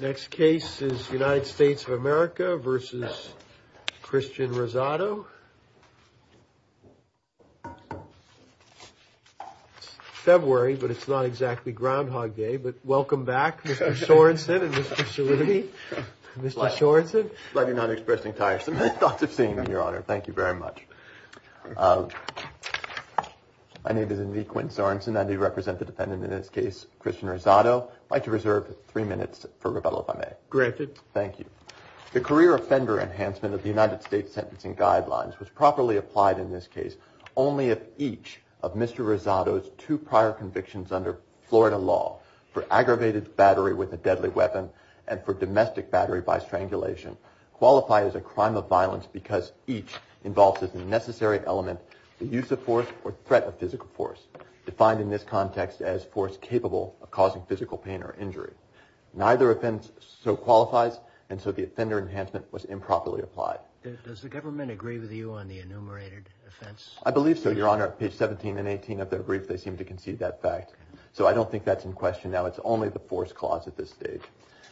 Next case is United States of America v. Christian Rosado, February, but it's not exactly Groundhog Day, but welcome back, Mr. Sorensen and Mr. Salini. Mr. Sorensen. I'm glad you're not expressing tiresome thoughts of seeing me, Your Honor. Thank you very much. My name is Indy Quinn Sorensen, and I do represent the defendant in this case, Christian Rosado. I'd like to reserve three minutes for rebuttal, if I may. Granted. Thank you. The career offender enhancement of the United States sentencing guidelines was properly applied in this case only if each of Mr. Rosado's two prior convictions under Florida law for aggravated battery with a deadly weapon and for domestic battery by strangulation qualify as a crime of violence because each involves as a necessary element the use of force or causing physical pain or injury. Neither offense so qualifies, and so the offender enhancement was improperly applied. Does the government agree with you on the enumerated offense? I believe so, Your Honor. At page 17 and 18 of their brief, they seem to concede that fact, so I don't think that's in question now. It's only the force clause at this stage.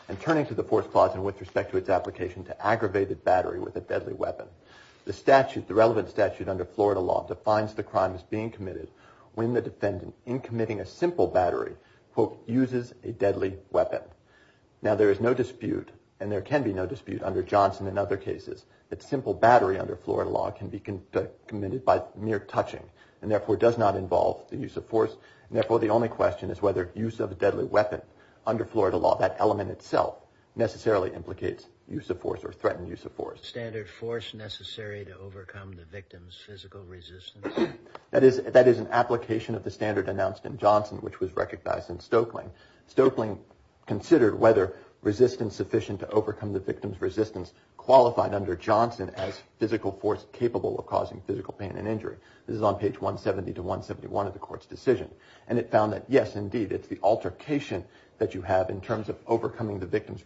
And turning to the force clause and with respect to its application to aggravated battery with a deadly weapon, the relevant statute under Florida law defines the crime as being committed when the defendant in committing a simple battery, quote, uses a deadly weapon. Now there is no dispute and there can be no dispute under Johnson and other cases that simple battery under Florida law can be committed by mere touching and therefore does not involve the use of force. And therefore, the only question is whether use of a deadly weapon under Florida law, that element itself, necessarily implicates use of force or threatened use of force. Standard force necessary to overcome the victim's physical resistance? That is an application of the standard announced in Johnson, which was recognized in Stoeckling. Stoeckling considered whether resistance sufficient to overcome the victim's resistance qualified under Johnson as physical force capable of causing physical pain and injury. This is on page 170 to 171 of the court's decision. And it found that yes, indeed, it's the altercation that you have in terms of overcoming the victim's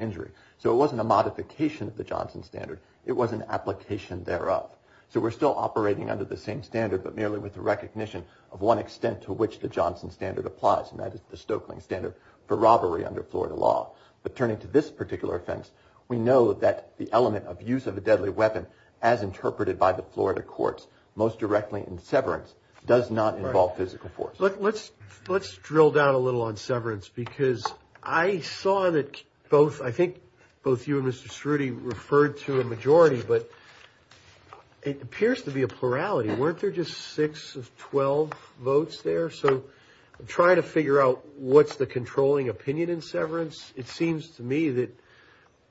injury. So it wasn't a modification of the Johnson standard. It was an application thereof. So we're still operating under the same standard, but merely with the recognition of one extent to which the Johnson standard applies, and that is the Stoeckling standard for robbery under Florida law. But turning to this particular offense, we know that the element of use of a deadly weapon, as interpreted by the Florida courts, most directly in severance, does not involve physical force. Let's drill down a little on severance, because I saw that both, I think both you and Mr. Schroeder referred to a majority, but it appears to be a plurality. Weren't there just six of 12 votes there? So I'm trying to figure out what's the controlling opinion in severance. It seems to me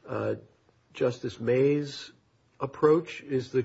that Justice May's approach is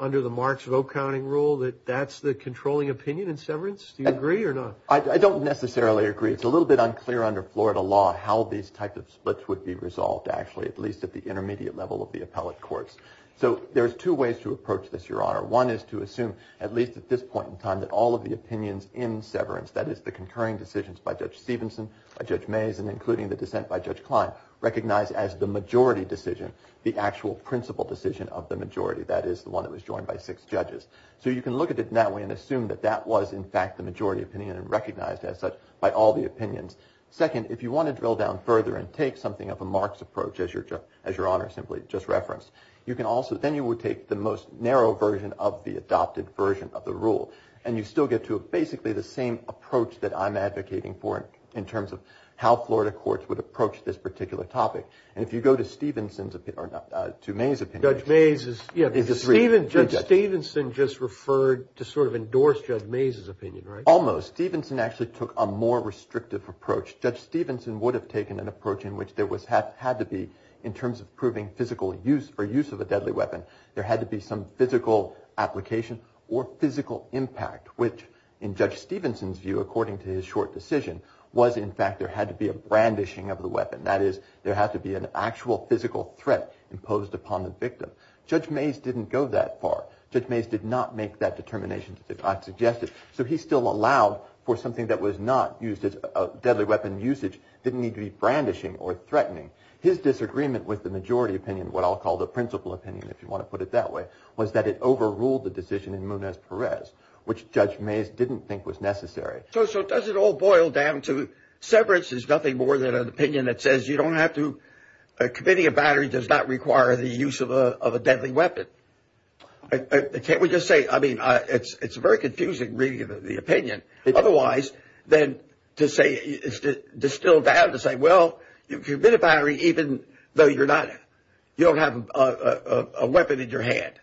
under the Marks Vote Counting Rule that that's the controlling opinion in severance. Do you agree or not? I don't necessarily agree. It's a little bit unclear under Florida law how these types of splits would be resolved, actually, at least at the intermediate level of the appellate courts. So there's two ways to approach this, Your Honor. One is to assume, at least at this point in time, that all of the opinions in severance, that is the concurring decisions by Judge Stevenson, by Judge Mays, and including the dissent by Judge Klein, recognized as the majority decision, the actual principal decision of the majority. That is the one that was joined by six judges. So you can look at it that way and assume that that was, in fact, the majority opinion and recognized as such by all the opinions. Second, if you want to drill down further and take something of a Marks approach, as Your Honor simply just referenced, you can also, then you would take the most narrow version of the adopted version of the rule. And you still get to basically the same approach that I'm advocating for in terms of how Florida courts would approach this particular topic. And if you go to Stevenson's opinion, or to Mays' opinion. Judge Mays is, yeah, Judge Stevenson just referred to sort of endorse Judge Mays' opinion, right? Almost. Stevenson actually took a more restrictive approach. Judge Stevenson would have taken an approach in which there had to be, in terms of proving physical use or use of a deadly weapon, there had to be some physical application or physical impact, which, in Judge Stevenson's view, according to his short decision, was in fact there had to be a brandishing of the weapon. That is, there had to be an actual physical threat imposed upon the victim. Judge Mays didn't go that far. Judge Mays did not make that determination, as I've suggested, so he still allowed for something that was not used as a deadly weapon usage, didn't need to be brandishing or threatening. His disagreement with the majority opinion, what I'll call the principal opinion, if you want to put it that way, was that it overruled the decision in Munez-Perez, which Judge Mays didn't think was necessary. So does it all boil down to severance is nothing more than an opinion that says you don't have to, committing a battery does not require the use of a deadly weapon. Can't we just say, I mean, it's very confusing reading the opinion, otherwise than to say, distill down to say, well, you commit a battery even though you're not, you don't have a weapon in your hand.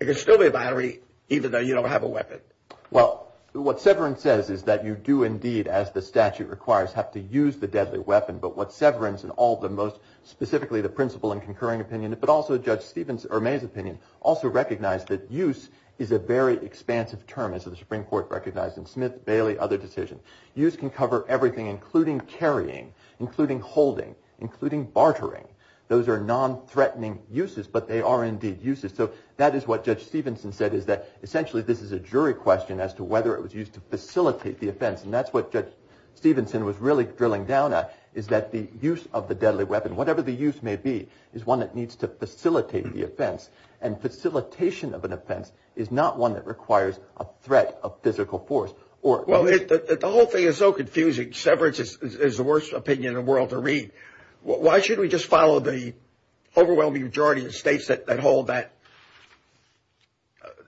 You can still be a battery even though you don't have a weapon. Well, what severance says is that you do indeed, as the statute requires, have to use the deadly weapon, but what severance and all the most, specifically the principal and concurring opinion, but also Judge Mays' opinion, also recognized that use is a very expansive term, as the Supreme Court recognized in Smith, Bailey, other decisions. Use can cover everything, including carrying, including holding, including bartering. Those are non-threatening uses, but they are indeed uses. So that is what Judge Stevenson said, is that essentially this is a jury question as to whether it was used to facilitate the offense, and that's what Judge Stevenson was really drilling down at, is that the use of the deadly weapon, whatever the use may be, is one that needs to facilitate the offense, and facilitation of an offense is not one that requires a threat of physical force. Well, the whole thing is so confusing, severance is the worst opinion in the world to read. Why should we just follow the overwhelming majority of states that hold that,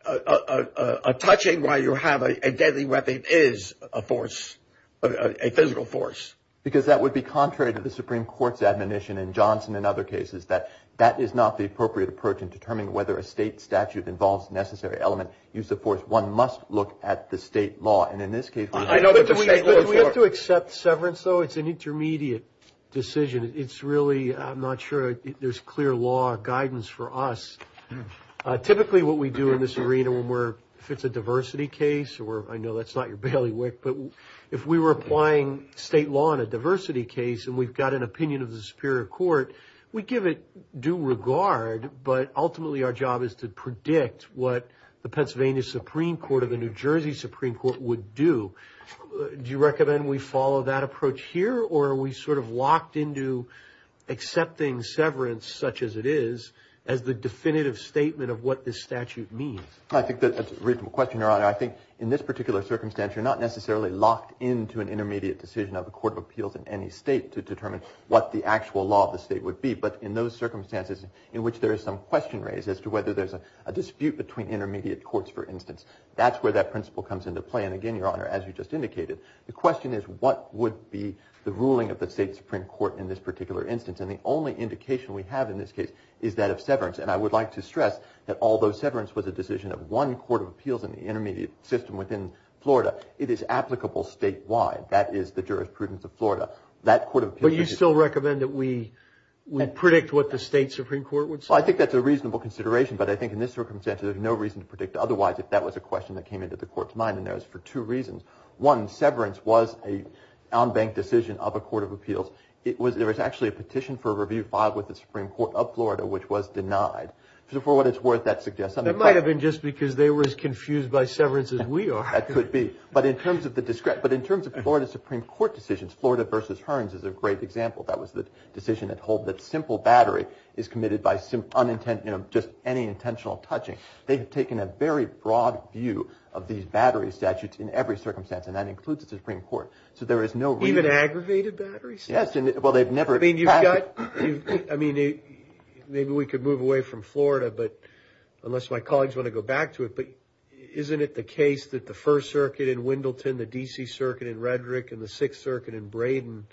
a touching why you have a deadly weapon is a force, a physical force? Because that would be contrary to the Supreme Court's admonition in Johnson and other cases, that that is not the appropriate approach in determining whether a state statute involves necessary element, use of force. One must look at the state law, and in this case, we have to accept severance though, it's an intermediate decision, it's really, I'm not sure there's clear law guidance for us. Typically, what we do in this arena when we're, if it's a diversity case, or I know that's not your bailiwick, but if we were applying state law in a diversity case, and we've got an opinion of the Superior Court, we give it due regard, but ultimately our job is to predict what the Pennsylvania Supreme Court or the New Jersey Supreme Court would do. Do you recommend we follow that approach here, or are we sort of locked into accepting severance such as it is, as the definitive statement of what this statute means? I think that's a reasonable question, Your Honor. I think in this particular circumstance, you're not necessarily locked into an intermediate decision of a court of appeals in any state to determine what the actual law of the state would be, but in those circumstances in which there is some question raised as to whether there's a dispute between intermediate courts, for instance, that's where that principle comes into play. And again, Your Honor, as you just indicated, the question is what would be the ruling of the state Supreme Court in this particular instance? And the only indication we have in this case is that of severance, and I would like to stress that although severance was a decision of one court of appeals in the intermediate system within Florida, it is applicable statewide. That is the jurisprudence of Florida. That court of appeals... But you still recommend that we predict what the state Supreme Court would say? Well, I think that's a reasonable consideration, but I think in this circumstance, there's no reason to predict otherwise if that was a question that came into the court's mind and there's for two reasons. One, severance was a on-bank decision of a court of appeals. It was... There was actually a petition for a review filed with the Supreme Court of Florida, which was denied. So for what it's worth, that suggests... That might have been just because they were as confused by severance as we are. That could be. But in terms of the discretion... But in terms of Florida Supreme Court decisions, Florida v. Hearns is a great example. That was the decision that holds that simple battery is committed by unintentional, just any intentional touching. They've taken a very broad view of these battery statutes in every circumstance, and that includes the Supreme Court. So there is no reason... Even aggravated battery statutes? Yes. Well, they've never... I mean, you've got... I mean, maybe we could move away from Florida, but unless my colleagues want to go back to it, but isn't it the case that the First Circuit in Wendleton, the D.C. Circuit in Redrick, and the Sixth Circuit in Braden,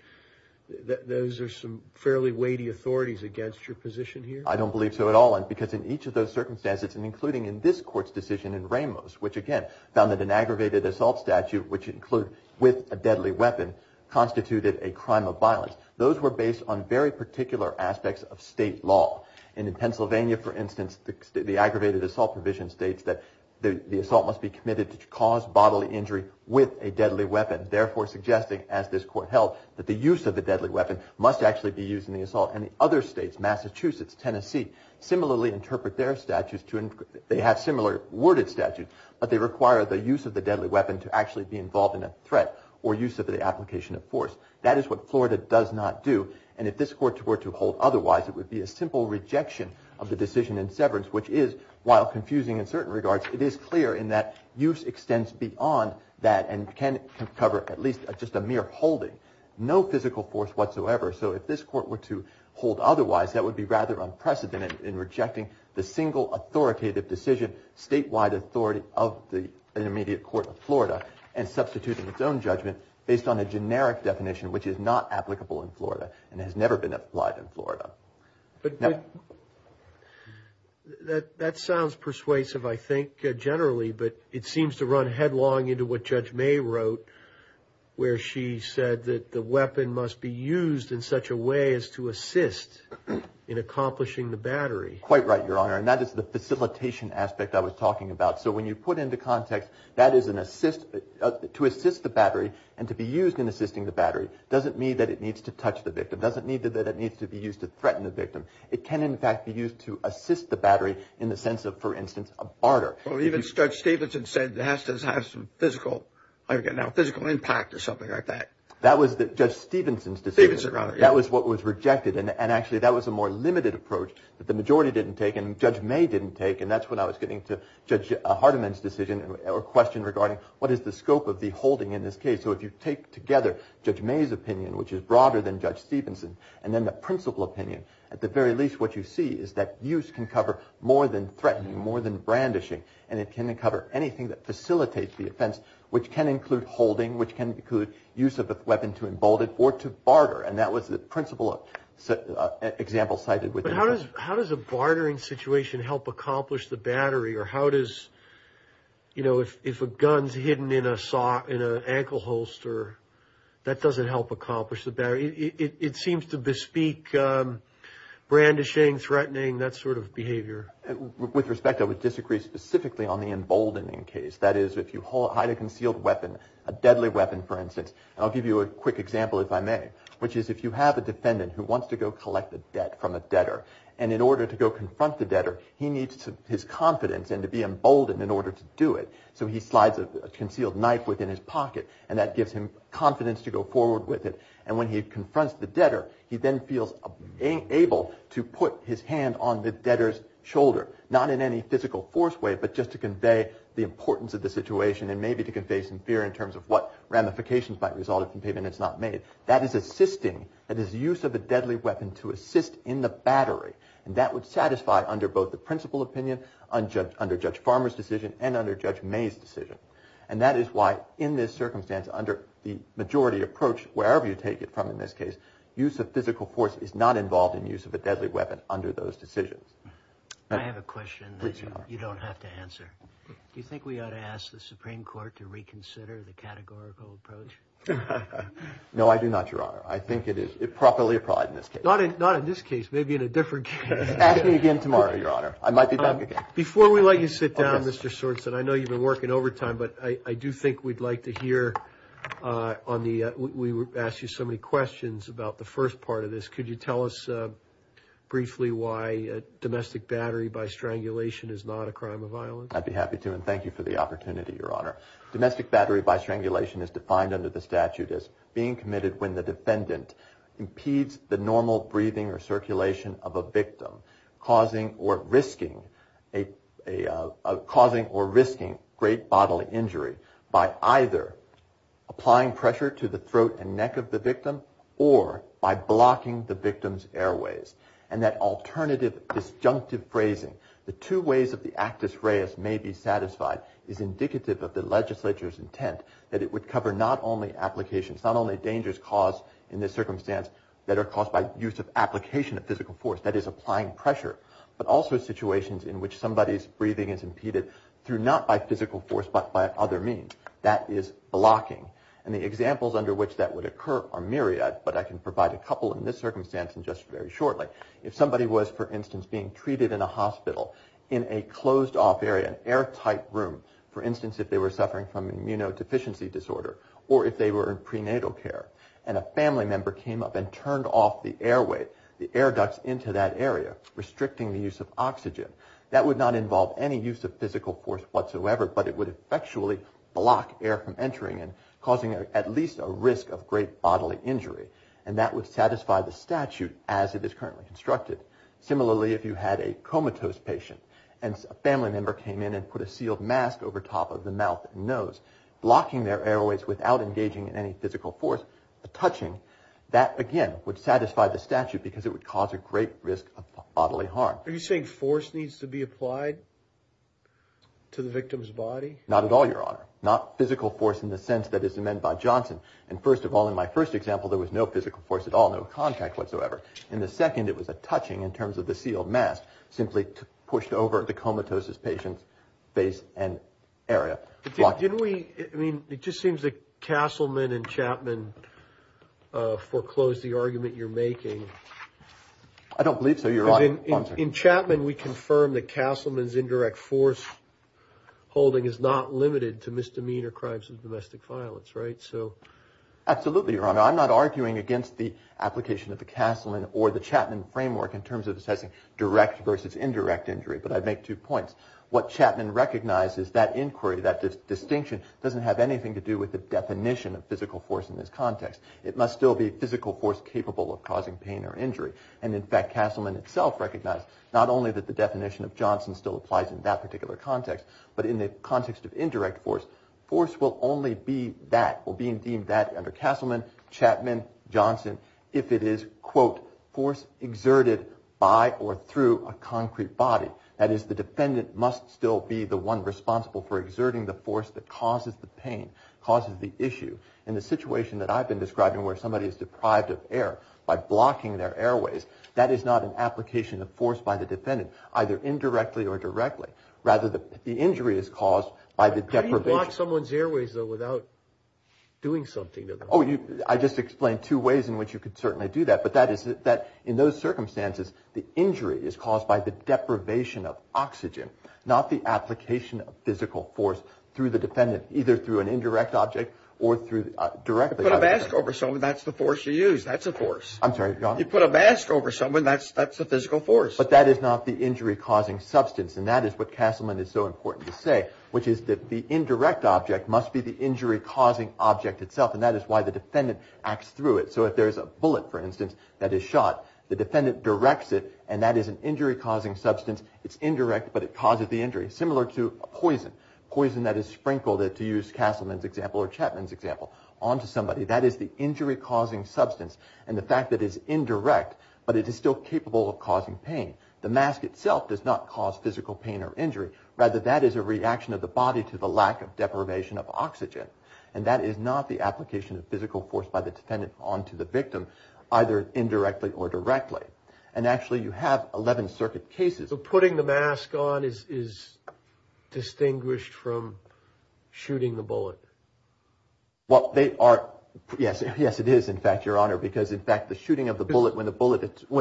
those are some fairly weighty authorities against your position here? I don't believe so at all. I don't believe it's a crime of violence, because in each of those circumstances, including in this Court's decision in Ramos, which, again, found that an aggravated assault statute, which includes with a deadly weapon, constituted a crime of violence. Those were based on very particular aspects of state law. And in Pennsylvania, for instance, the aggravated assault provision states that the assault must be committed to cause bodily injury with a deadly weapon, therefore suggesting, as this Court held, that the use of the deadly weapon must actually be used in the assault. And the other states, Massachusetts, Tennessee, similarly interpret their statutes to... They have similar worded statutes, but they require the use of the deadly weapon to actually be involved in a threat or use of the application of force. That is what Florida does not do. And if this Court were to hold otherwise, it would be a simple rejection of the decision in Severance, which is, while confusing in certain regards, it is clear in that use extends beyond that and can cover at least just a mere holding, no physical force whatsoever. So if this Court were to hold otherwise, that would be rather unprecedented in rejecting the single authoritative decision, statewide authority of the Intermediate Court of Florida, and substituting its own judgment based on a generic definition, which is not applicable in Florida and has never been applied in Florida. That sounds persuasive, I think, generally, but it seems to run headlong into what Judge Stevenson said. In such a way as to assist in accomplishing the battery. Quite right, Your Honor. And that is the facilitation aspect I was talking about. So when you put into context that is an assist... To assist the battery and to be used in assisting the battery doesn't mean that it needs to touch the victim. It doesn't mean that it needs to be used to threaten the victim. It can, in fact, be used to assist the battery in the sense of, for instance, a barter. Well, even Judge Stevenson said it has to have some physical, again now, physical impact or something like that. That was Judge Stevenson's decision. That was what was rejected, and actually that was a more limited approach that the majority didn't take and Judge May didn't take, and that's when I was getting to Judge Hardiman's decision or question regarding what is the scope of the holding in this case. So if you take together Judge May's opinion, which is broader than Judge Stevenson, and then the principal opinion, at the very least what you see is that use can cover more than threatening, more than brandishing, and it can cover anything that facilitates the offense, which can include holding, which can include use of a weapon to embolden, or to barter, and that was the principal example cited within the case. How does a bartering situation help accomplish the battery, or how does, you know, if a gun's hidden in an ankle holster, that doesn't help accomplish the battery? It seems to bespeak brandishing, threatening, that sort of behavior. With respect, I would disagree specifically on the emboldening case. That is, if you hide a concealed weapon, a deadly weapon, for instance, and I'll give you a quick example if I may, which is if you have a defendant who wants to go collect a debt from a debtor, and in order to go confront the debtor, he needs his confidence and to be emboldened in order to do it, so he slides a concealed knife within his pocket, and that gives him confidence to go forward with it, and when he confronts the debtor, he then feels able to put his hand on the debtor's shoulder, not in any physical force way, but just to convey the importance of the situation, and maybe to convey some fear in terms of what ramifications might result if the payment is not made. That is assisting, that is use of a deadly weapon to assist in the battery, and that would satisfy under both the principal opinion, under Judge Farmer's decision, and under Judge May's decision, and that is why in this circumstance, under the majority approach, wherever you take it from in this case, use of physical force is not involved in use of a deadly weapon under those decisions. I have a question that you don't have to answer. Do you think we ought to ask the Supreme Court to reconsider the categorical approach? No, I do not, Your Honor. I think it is improperly applied in this case. Not in this case, maybe in a different case. Ask me again tomorrow, Your Honor. I might be back again. Before we let you sit down, Mr. Sorenson, I know you've been working overtime, but I do think we'd like to hear, we asked you so many questions about the first part of this. Could you tell us briefly why domestic battery by strangulation is not a crime of violence? I'd be happy to, and thank you for the opportunity, Your Honor. Domestic battery by strangulation is defined under the statute as being committed when the defendant impedes the normal breathing or circulation of a victim, causing or risking great bodily injury by either applying pressure to the throat and neck of the victim, or by blocking the victim's airways. And that alternative, disjunctive phrasing, the two ways of the actus reus may be satisfied, is indicative of the legislature's intent that it would cover not only applications, not only dangers caused in this circumstance that are caused by use of application of physical force, that is applying pressure, but also situations in which somebody's breathing is impeded through not by physical force, but by other means. That is blocking. And the examples under which that would occur are myriad, but I can provide a couple in this circumstance in just very shortly. If somebody was, for instance, being treated in a hospital in a closed off area, an airtight room, for instance, if they were suffering from immunodeficiency disorder, or if they were in prenatal care, and a family member came up and turned off the airway, the air ducts into that area, restricting the use of oxygen, that would not involve any use of physical force whatsoever, but it would effectually block air from entering and causing at least a risk of great bodily injury. And that would satisfy the statute as it is currently constructed. Similarly, if you had a comatose patient, and a family member came in and put a sealed mask over top of the mouth and nose, blocking their airways without engaging in any physical force, touching, that again would satisfy the statute because it would cause a great risk of bodily harm. Are you saying force needs to be applied to the victim's body? Not at all, Your Honor. Not physical force in the sense that is amended by Johnson. And first of all, in my first example, there was no physical force at all, no contact whatsoever. In the second, it was a touching in terms of the sealed mask, simply pushed over the comatose patient's face and area. Didn't we, I mean, it just seems that Castleman and Chapman foreclosed the argument you're making. I don't believe so, Your Honor. In Chapman, we confirmed that Castleman's indirect force holding is not limited to misdemeanor crimes of domestic violence, right? So... Absolutely, Your Honor. I'm not arguing against the application of the Castleman or the Chapman framework in terms of assessing direct versus indirect injury, but I'd make two points. What Chapman recognizes, that inquiry, that distinction doesn't have anything to do with the definition of physical force in this context. It must still be physical force capable of causing pain or injury. And in fact, Castleman itself recognized not only that the definition of Johnson still applies in that particular context, but in the context of indirect force, force will only be that, or being deemed that under Castleman, Chapman, Johnson, if it is, quote, force exerted by or through a concrete body. That is, the defendant must still be the one responsible for exerting the force that causes the pain, causes the issue. In the situation that I've been describing where somebody is deprived of air by blocking their airways, that is not an application of force by the defendant, either indirectly or directly. Rather, the injury is caused by the deprivation... How do you block someone's airways, though, without doing something to them? Oh, you... I just explained two ways in which you could certainly do that. But that is that in those circumstances, the injury is caused by the deprivation of oxygen, not the application of physical force through the defendant, either through an indirect object or through directly... But I've asked over someone, that's the force you use. That's a force. You put a mask over someone, that's a physical force. But that is not the injury-causing substance, and that is what Castleman is so important to say, which is that the indirect object must be the injury-causing object itself, and that is why the defendant acts through it. So if there is a bullet, for instance, that is shot, the defendant directs it, and that is an injury-causing substance. It's indirect, but it causes the injury. Similar to a poison, poison that is sprinkled, to use Castleman's example or Chapman's example, onto somebody. That is the injury-causing substance, and the fact that it is indirect, but it is still capable of causing pain. The mask itself does not cause physical pain or injury. Rather, that is a reaction of the body to the lack of deprivation of oxygen. And that is not the application of physical force by the defendant onto the victim, either indirectly or directly. And actually, you have 11 circuit cases. So putting the mask on is distinguished from shooting the bullet? Well, they are, yes, it is, in fact, Your Honor, because in fact, the shooting of the bullet, when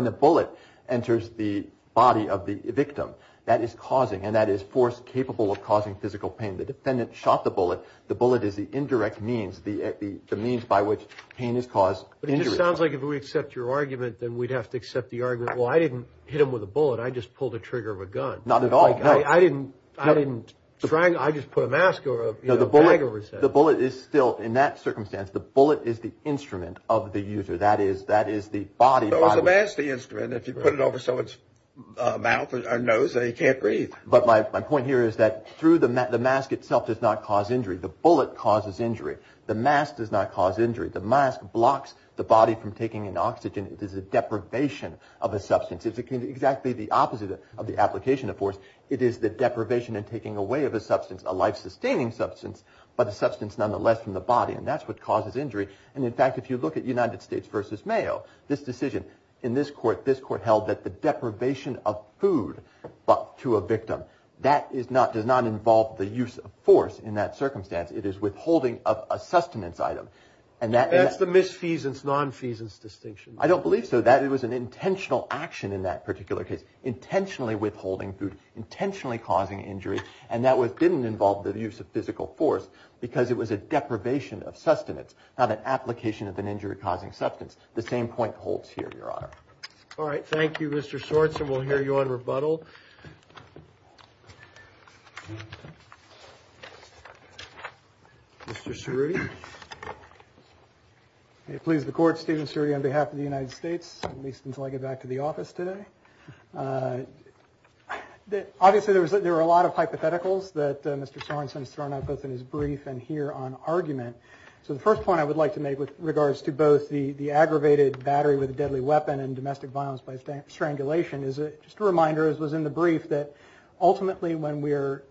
the bullet enters the body of the victim, that is causing, and that is force capable of causing physical pain. The defendant shot the bullet. The bullet is the indirect means, the means by which pain is caused. But it just sounds like if we accept your argument, then we'd have to accept the argument, well, I didn't hit him with a bullet, I just pulled the trigger of a gun. Not at all. I didn't. I didn't try. I just put a mask or a bag over his head. The bullet is still, in that circumstance, the bullet is the instrument of the user. That is, that is the body. No, it's the mask, the instrument. If you put it over someone's mouth or nose, they can't breathe. But my point here is that through the mask, the mask itself does not cause injury. The bullet causes injury. The mask does not cause injury. The mask blocks the body from taking in oxygen. It is a deprivation of a substance. It's exactly the opposite of the application of force. It is the deprivation and taking away of a substance, a life-sustaining substance, but a substance nonetheless from the body. And that's what causes injury. And in fact, if you look at United States v. Mayo, this decision in this court, this court held that the deprivation of food to a victim, that does not involve the use of force in that circumstance. It is withholding of a sustenance item. And that's the misfeasance, non-feasance distinction. I don't believe so. It was an intentional action in that particular case, intentionally withholding food, intentionally causing injury, and that didn't involve the use of physical force because it was a deprivation of sustenance, not an application of an injury-causing substance. The same point holds here, Your Honor. All right. Thank you, Mr. Schwartz. And we'll hear you on rebuttal. Mr. Cerruti. May it please the Court, Stephen Cerruti on behalf of the United States, at least until I get back to the office today. Obviously, there were a lot of hypotheticals that Mr. Sorensen has thrown out both in his brief and here on argument. So the first point I would like to make with regards to both the aggravated battery with in the brief that ultimately when we're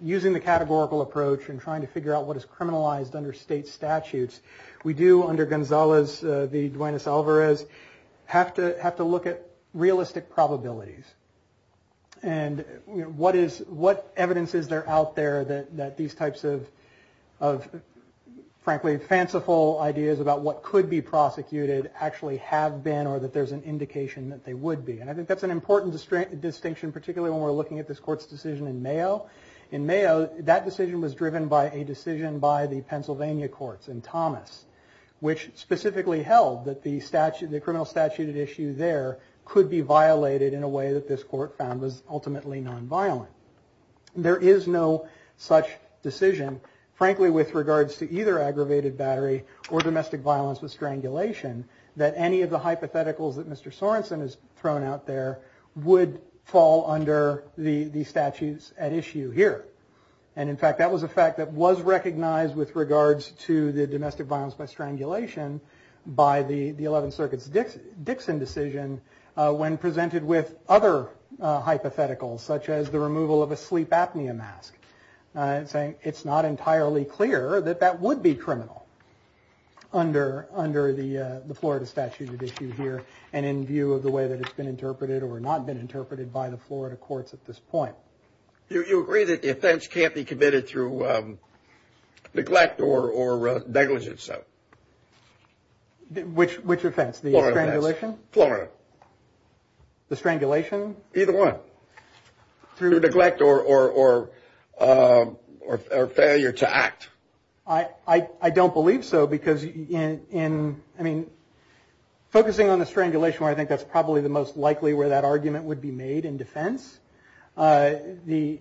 using the categorical approach and trying to figure out what is criminalized under state statutes, we do, under Gonzales v. Duanes Alvarez, have to look at realistic probabilities. And what evidence is there out there that these types of, frankly, fanciful ideas about what could be prosecuted actually have been or that there's an indication that they would be? And I think that's an important distinction, particularly when we're looking at this Court's decision in Mayo. In Mayo, that decision was driven by a decision by the Pennsylvania courts in Thomas, which specifically held that the criminal statute at issue there could be violated in a way that this Court found was ultimately nonviolent. There is no such decision, frankly, with regards to either aggravated battery or domestic violence with strangulation, that any of the hypotheticals that Mr. Sorensen has thrown out there would fall under the statutes at issue here. And in fact, that was a fact that was recognized with regards to the domestic violence by strangulation by the 11th Circuit's Dixon decision when presented with other hypotheticals, such as the removal of a sleep apnea mask, saying it's not entirely clear that that would be under the Florida statute at issue here. And in view of the way that it's been interpreted or not been interpreted by the Florida courts at this point. Do you agree that the offense can't be committed through neglect or negligence, though? Which offense? The strangulation? Florida offense. The strangulation? Either one. Through neglect or failure to act. I don't believe so because in, I mean, focusing on the strangulation where I think that's probably the most likely where that argument would be made in defense, the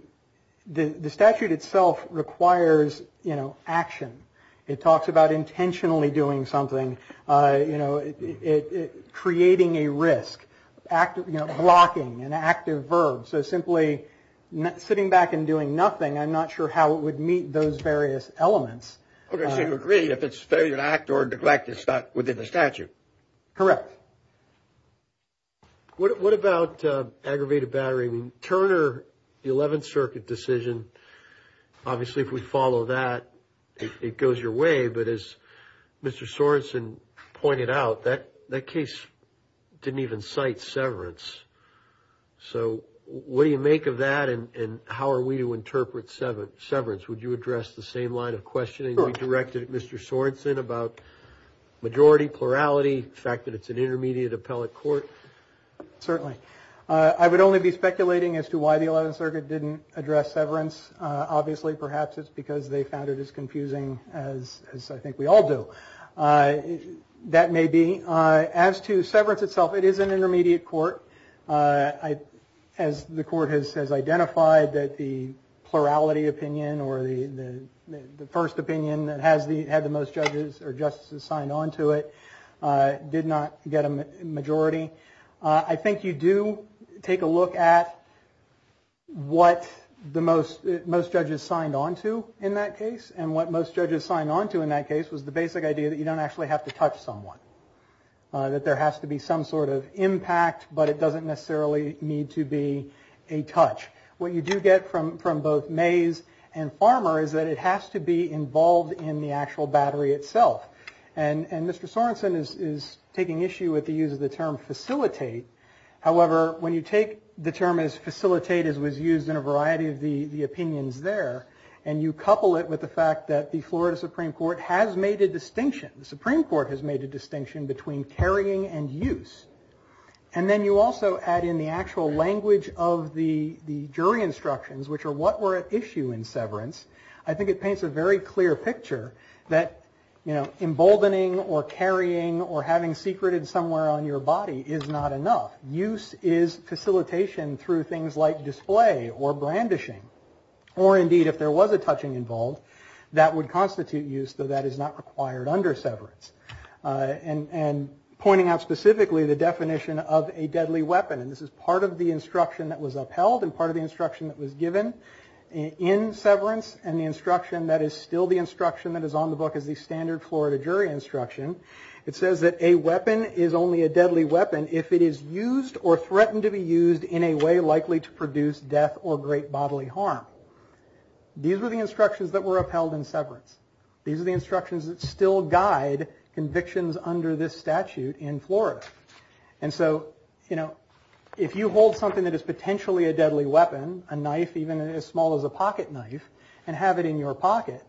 statute itself requires, you know, action. It talks about intentionally doing something, you know, creating a risk, blocking an active verb. So simply sitting back and doing nothing, I'm not sure how it would meet those various elements. Okay. So you agree if it's failure to act or neglect, it's not within the statute? Correct. What about aggravated battery? I mean, Turner, the 11th Circuit decision, obviously if we follow that, it goes your way. But as Mr. Sorensen pointed out, that case didn't even cite severance. So what do you make of that and how are we to interpret severance? Would you address the same line of questioning we directed at Mr. Sorensen about majority, plurality, the fact that it's an intermediate appellate court? Certainly. I would only be speculating as to why the 11th Circuit didn't address severance. Obviously perhaps it's because they found it as confusing as I think we all do. That may be. As to severance itself, it is an intermediate court. As the court has identified that the plurality opinion or the first opinion that had the most judges or justices signed on to it did not get a majority. I think you do take a look at what most judges signed on to in that case. And what most judges signed on to in that case was the basic idea that you don't actually have to touch someone, that there has to be some sort of impact, but it doesn't necessarily need to be a touch. What you do get from both Mays and Farmer is that it has to be involved in the actual battery itself. And Mr. Sorensen is taking issue with the use of the term facilitate. However, when you take the term as facilitate as was used in a variety of the opinions there, and you couple it with the fact that the Florida Supreme Court has made a distinction, the Supreme Court has made a distinction between carrying and use. And then you also add in the actual language of the jury instructions, which are what were at issue in severance. I think it paints a very clear picture that emboldening or carrying or having secreted somewhere on your body is not enough. Use is facilitation through things like display or brandishing. Or indeed, if there was a touching involved, that would constitute use, though that is not required under severance. And pointing out specifically the definition of a deadly weapon, and this is part of the instruction that was upheld and part of the instruction that was given in severance. And the instruction that is still the instruction that is on the book is the standard Florida jury instruction. It says that a weapon is only a deadly weapon if it is used or threatened to be used in a way likely to produce death or great bodily harm. These were the instructions that were upheld in severance. These are the instructions that still guide convictions under this statute in Florida. And so if you hold something that is potentially a deadly weapon, a knife, even as small as a pocket knife, and have it in your pocket,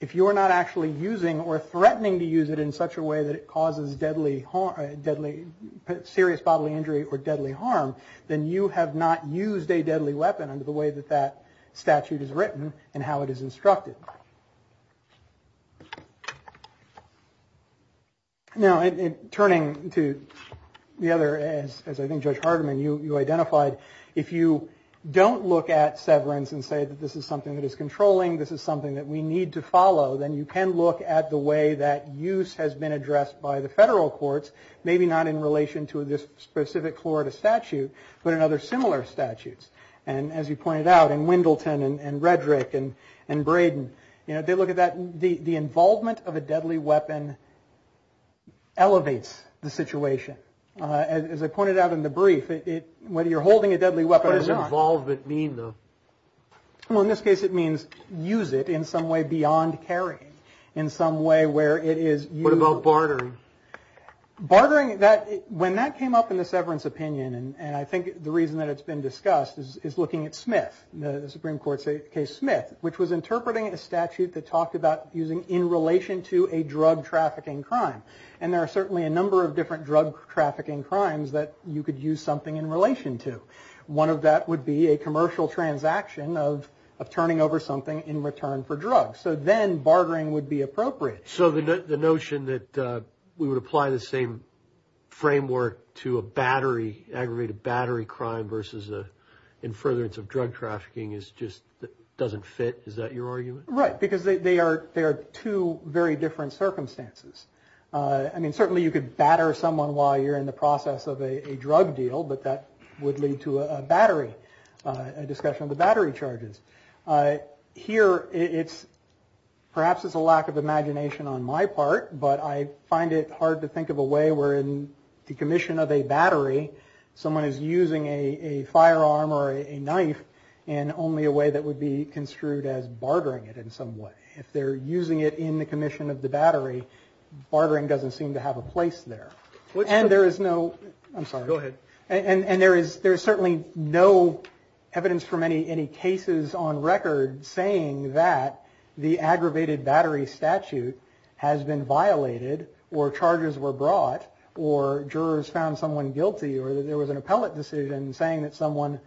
if you are not actually using or threatening to use it in such a way that it causes deadly, serious bodily injury or deadly harm, then you have not used a deadly weapon under the way that that statute is written and how it is instructed. Now, turning to the other, as I think Judge Hardiman, you identified, if you don't look at severance and say that this is something that is controlling, this is something that we need to follow, then you can look at the way that use has been addressed by the federal courts, maybe not in relation to this specific Florida statute, but in other similar statutes. And as you pointed out, in Wendleton and Redrick and Braden, they look at that, the involvement of a deadly weapon elevates the situation. As I pointed out in the brief, whether you're holding a deadly weapon or not. What does involvement mean, though? Well, in this case, it means use it in some way beyond carrying, in some way where it is. What about bartering? Bartering, when that came up in the severance opinion, and I think the reason that it's been discussed is looking at Smith, the Supreme Court's case Smith, which was interpreting a statute that talked about using in relation to a drug trafficking crime. And there are certainly a number of different drug trafficking crimes that you could use something in relation to. One of that would be a commercial transaction of turning over something in return for drugs. So then bartering would be appropriate. So the notion that we would apply the same framework to a battery, aggravated battery crime versus a in furtherance of drug trafficking is just doesn't fit. Is that your argument? Right. Because they are they are two very different circumstances. I mean, certainly you could batter someone while you're in the process of a drug deal. But that would lead to a battery, a discussion of the battery charges. Here, it's perhaps it's a lack of imagination on my part. But I find it hard to think of a way where in the commission of a battery, someone is using a firearm or a knife and only a way that would be construed as bartering it in some way. If they're using it in the commission of the battery, bartering doesn't seem to have a place there. And there is no I'm sorry. Go ahead. And there is there is certainly no evidence from any any cases on record saying that the aggravated battery statute has been violated or charges were brought or jurors found someone guilty or that there was an appellate decision saying that someone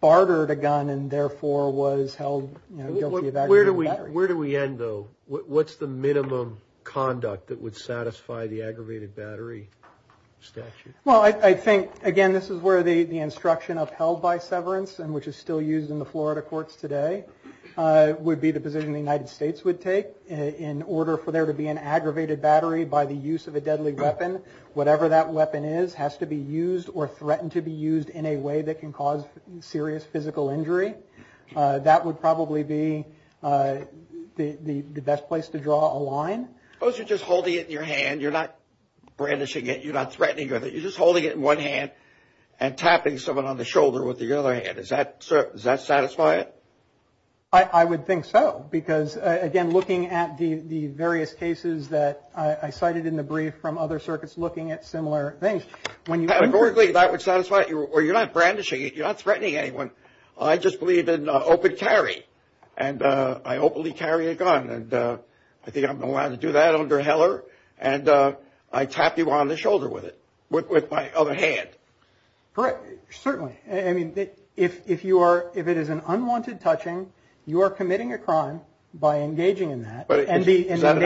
bartered a gun and therefore was held guilty of that. Where do we where do we end, though? What's the minimum conduct that would satisfy the aggravated battery statute? Well, I think, again, this is where the instruction upheld by severance and which is still used in the Florida courts today would be the position the United States would take in order for there to be an aggravated battery by the use of a deadly weapon, whatever that weapon is has to be used or threatened to be used in a way that can cause serious physical injury. That would probably be the best place to draw a line. Suppose you're just holding it in your hand, you're not brandishing it, you're not threatening with it. You're just holding it in one hand and tapping someone on the shoulder with the other hand. Is that does that satisfy it? I would think so, because, again, looking at the various cases that I cited in the brief from other circuits looking at similar things, when you have a board that would satisfy you or you're not brandishing it, you're not threatening anyone. I just believe in open carry and I openly carry a gun and I think I'm allowed to do that under Heller. And I tapped you on the shoulder with it, with my other hand. Correct. Certainly, I mean, if you are if it is an unwanted touching, you are committing a crime by engaging in that. But is that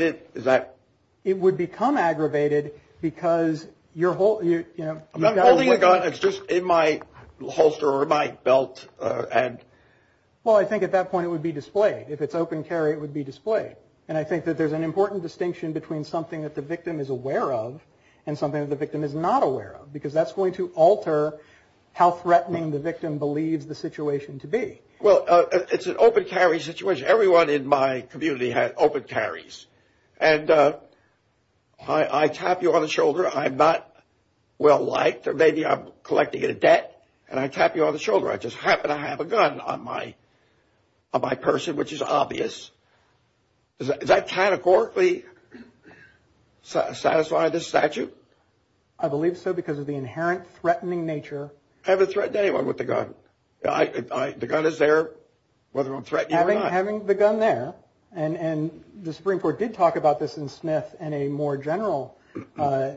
it is that it would become aggravated because your whole you know, I'm not holding a gun. It's just in my holster or my belt. And well, I think at that point it would be displayed if it's open carry, it would be displayed. And I think that there's an important distinction between something that the state is going to alter, how threatening the victim believes the situation to be. Well, it's an open carry situation. Everyone in my community had open carries. And I tap you on the shoulder. I'm not well liked or maybe I'm collecting a debt and I tap you on the shoulder. I just happen to have a gun on my on my person, which is obvious. Is that categorically satisfy the statute? I believe so, because of the inherent threatening nature. I haven't threatened anyone with the gun. The gun is there, whether I'm threatening having the gun there. And the Supreme Court did talk about this in Smith and a more general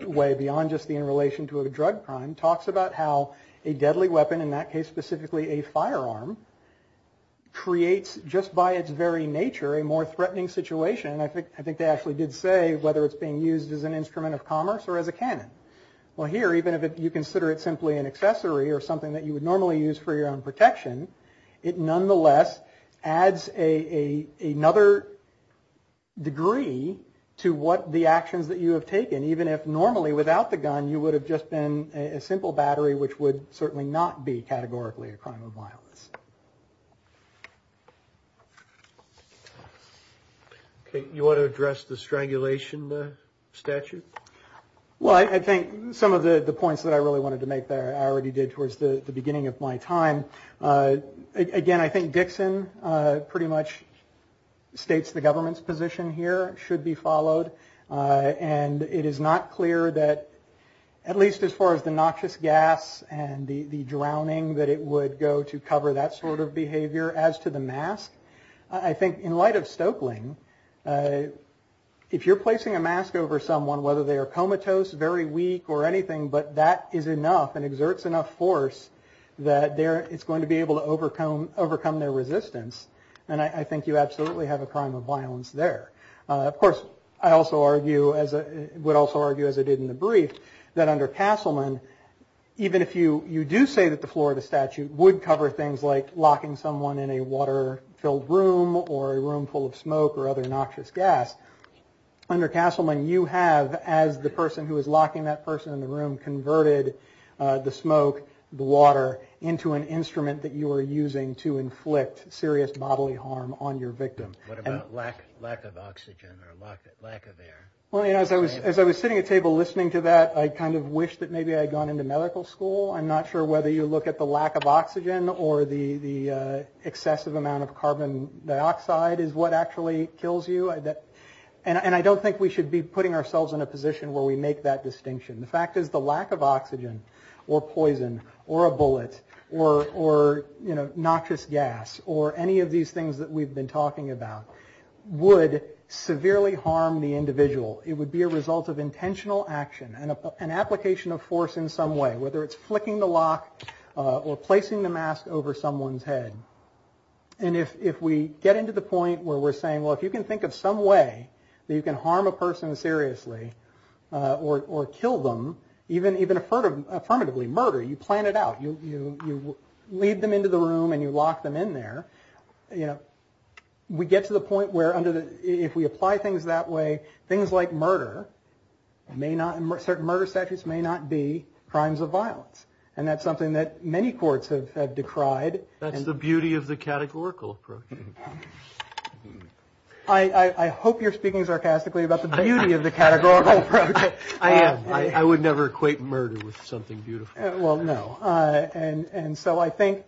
way beyond just the in relation to a drug crime talks about how a deadly weapon, in that case, specifically a firearm. Creates just by its very nature, a more threatening situation. And I think I think they actually did say whether it's being used as an instrument of commerce or as a cannon. Well, here, even if you consider it simply an accessory or something that you would normally use for your own protection, it nonetheless adds a another degree to what the actions that you have taken, even if normally without the gun, you would have just been a simple battery, which would certainly not be categorically a crime of violence. OK, you want to address the strangulation statute? Well, I think some of the points that I really wanted to make there I already did towards the beginning of my time. Again, I think Dixon pretty much states the government's position here should be followed. And it is not clear that at least as far as the noxious gas and the drowning that it would go to cover that sort of behavior. As to the mask, I think in light of Stoeckling, if you're placing a mask over someone, whether they are comatose, very weak or anything, but that is enough and exerts enough force that it's going to be able to overcome their resistance. And I think you absolutely have a crime of violence there. Of course, I also argue as I would also argue, as I did in the brief, that under the Florida statute would cover things like locking someone in a water filled room or a room full of smoke or other noxious gas. Under Castleman, you have, as the person who is locking that person in the room, converted the smoke, the water into an instrument that you are using to inflict serious bodily harm on your victim. What about lack of oxygen or lack of air? Well, you know, as I was sitting at a table listening to that, I kind of wish that maybe I'd gone into medical school. I'm not sure whether you look at the lack of oxygen or the excessive amount of carbon dioxide is what actually kills you. And I don't think we should be putting ourselves in a position where we make that distinction. The fact is the lack of oxygen or poison or a bullet or noxious gas or any of these things that we've been talking about would severely harm the individual. It would be a result of intentional action and an application of force in some way, whether it's flicking the lock or placing the mask over someone's head. And if we get into the point where we're saying, well, if you can think of some way that you can harm a person seriously or kill them, even affirmatively, murder, you plan it out. You lead them into the room and you lock them in there. You know, we get to the point where under the if we apply things that way, things like may not certain murder statutes may not be crimes of violence. And that's something that many courts have decried. That's the beauty of the categorical approach. I hope you're speaking sarcastically about the beauty of the categorical approach. I am. I would never equate murder with something beautiful. Well, no. And so I think.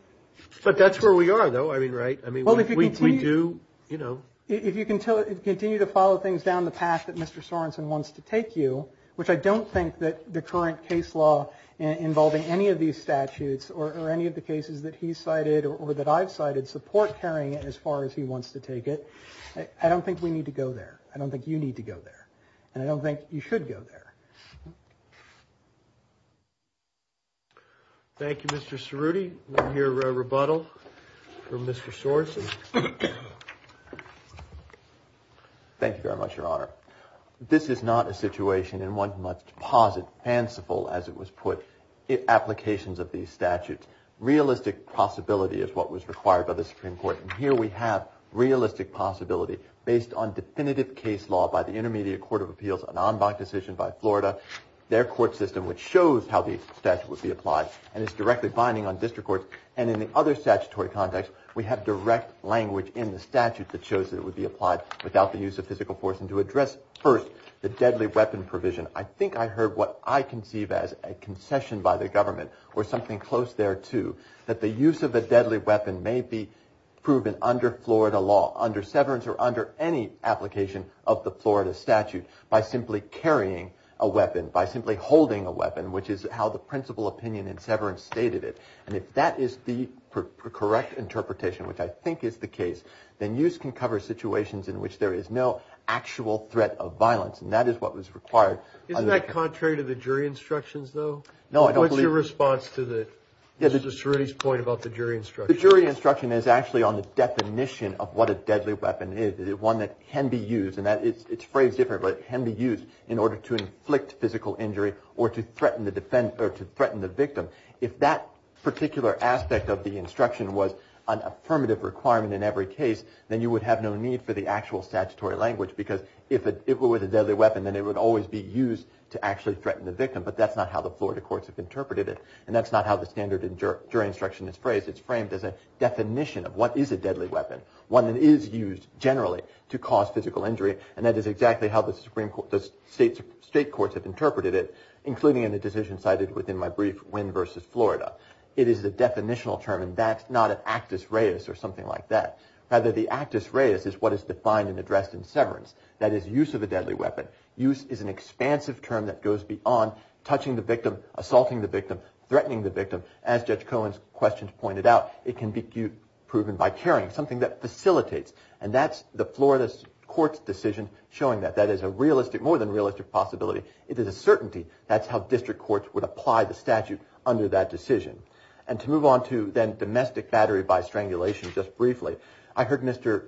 But that's where we are, though. I mean, right. I mean, well, if we do, you know, if you can continue to follow things down the path that Mr. Sorensen wants to take you, which I don't think that the current case law involving any of these statutes or any of the cases that he cited or that I've cited support carrying it as far as he wants to take it. I don't think we need to go there. I don't think you need to go there. And I don't think you should go there. Thank you, Mr. Cerruti. We'll hear a rebuttal from Mr. Sorensen. Thank you very much, Your Honor. This is not a situation in one's deposit, fanciful as it was put in applications of these statutes. Realistic possibility is what was required by the Supreme Court. And here we have realistic possibility based on definitive case law by the Intermediate Court of Appeals, an en banc decision by Florida, their court system, which shows how the statute would be applied and is directly binding on district courts. Language in the statute that shows that it would be applied without the use of physical force and to address first the deadly weapon provision. I think I heard what I conceive as a concession by the government or something close thereto that the use of a deadly weapon may be proven under Florida law, under severance or under any application of the Florida statute by simply carrying a weapon, by simply holding a weapon, which is how the principal opinion in severance stated it. And if that is the correct interpretation, which I think is the case, then use can cover situations in which there is no actual threat of violence. And that is what was required. Isn't that contrary to the jury instructions, though? No, I don't believe response to the point about the jury instruction, the jury instruction is actually on the definition of what a deadly weapon is, one that can be used and that it's phrased differently, can be used in order to inflict physical injury or to threaten the defense or to threaten the victim. If that particular aspect of the instruction was an affirmative requirement in every case, then you would have no need for the actual statutory language, because if it was a deadly weapon, then it would always be used to actually threaten the victim. But that's not how the Florida courts have interpreted it. And that's not how the standard jury instruction is phrased. It's framed as a definition of what is a deadly weapon, one that is used generally to cause physical injury. And that is exactly how the Supreme Court, the state courts have interpreted it, including in the decision cited within my brief, Wynn v. Florida. It is the definitional term, and that's not an actus reus or something like that. Rather, the actus reus is what is defined and addressed in severance. That is use of a deadly weapon. Use is an expansive term that goes beyond touching the victim, assaulting the victim, threatening the victim. As Judge Cohen's questions pointed out, it can be proven by carrying something that facilitates. And that's the Florida court's decision showing that that is a realistic, more than realistic possibility. It is a certainty. That's how district courts would apply the statute under that decision. And to move on to then domestic battery by strangulation. Just briefly, I heard Mr.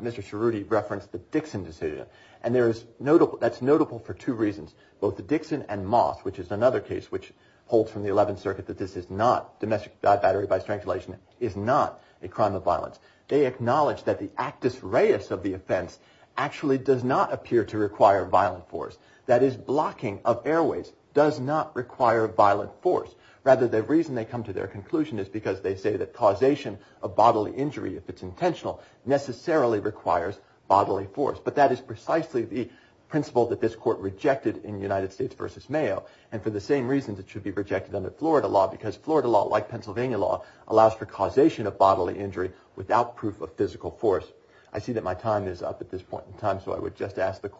Mr. Cerruti referenced the Dixon decision. And there is notable that's notable for two reasons, both the Dixon and Moss, which is another case which holds from the 11th Circuit that this is not domestic battery by strangulation, is not a crime of violence. They acknowledge that the actus reus of the offense actually does not appear to require violent force. That is, blocking of airways does not require violent force. Rather, the reason they come to their conclusion is because they say that causation of bodily injury, if it's intentional, necessarily requires bodily force. But that is precisely the principle that this court rejected in United States versus Mayo. And for the same reasons, it should be rejected under Florida law because Florida law, like Pennsylvania law, allows for causation of bodily injury without proof of physical force. I see that my time is up at this point in time, so I would just ask the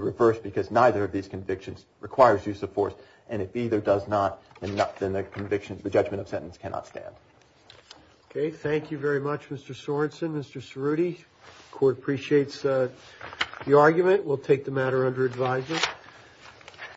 reverse, because neither of these convictions requires use of force. And if either does not enough, then the conviction, the judgment of sentence cannot stand. OK, thank you very much, Mr. Sorenson. Mr. Cerruti, the court appreciates the argument. We'll take the matter under advisement.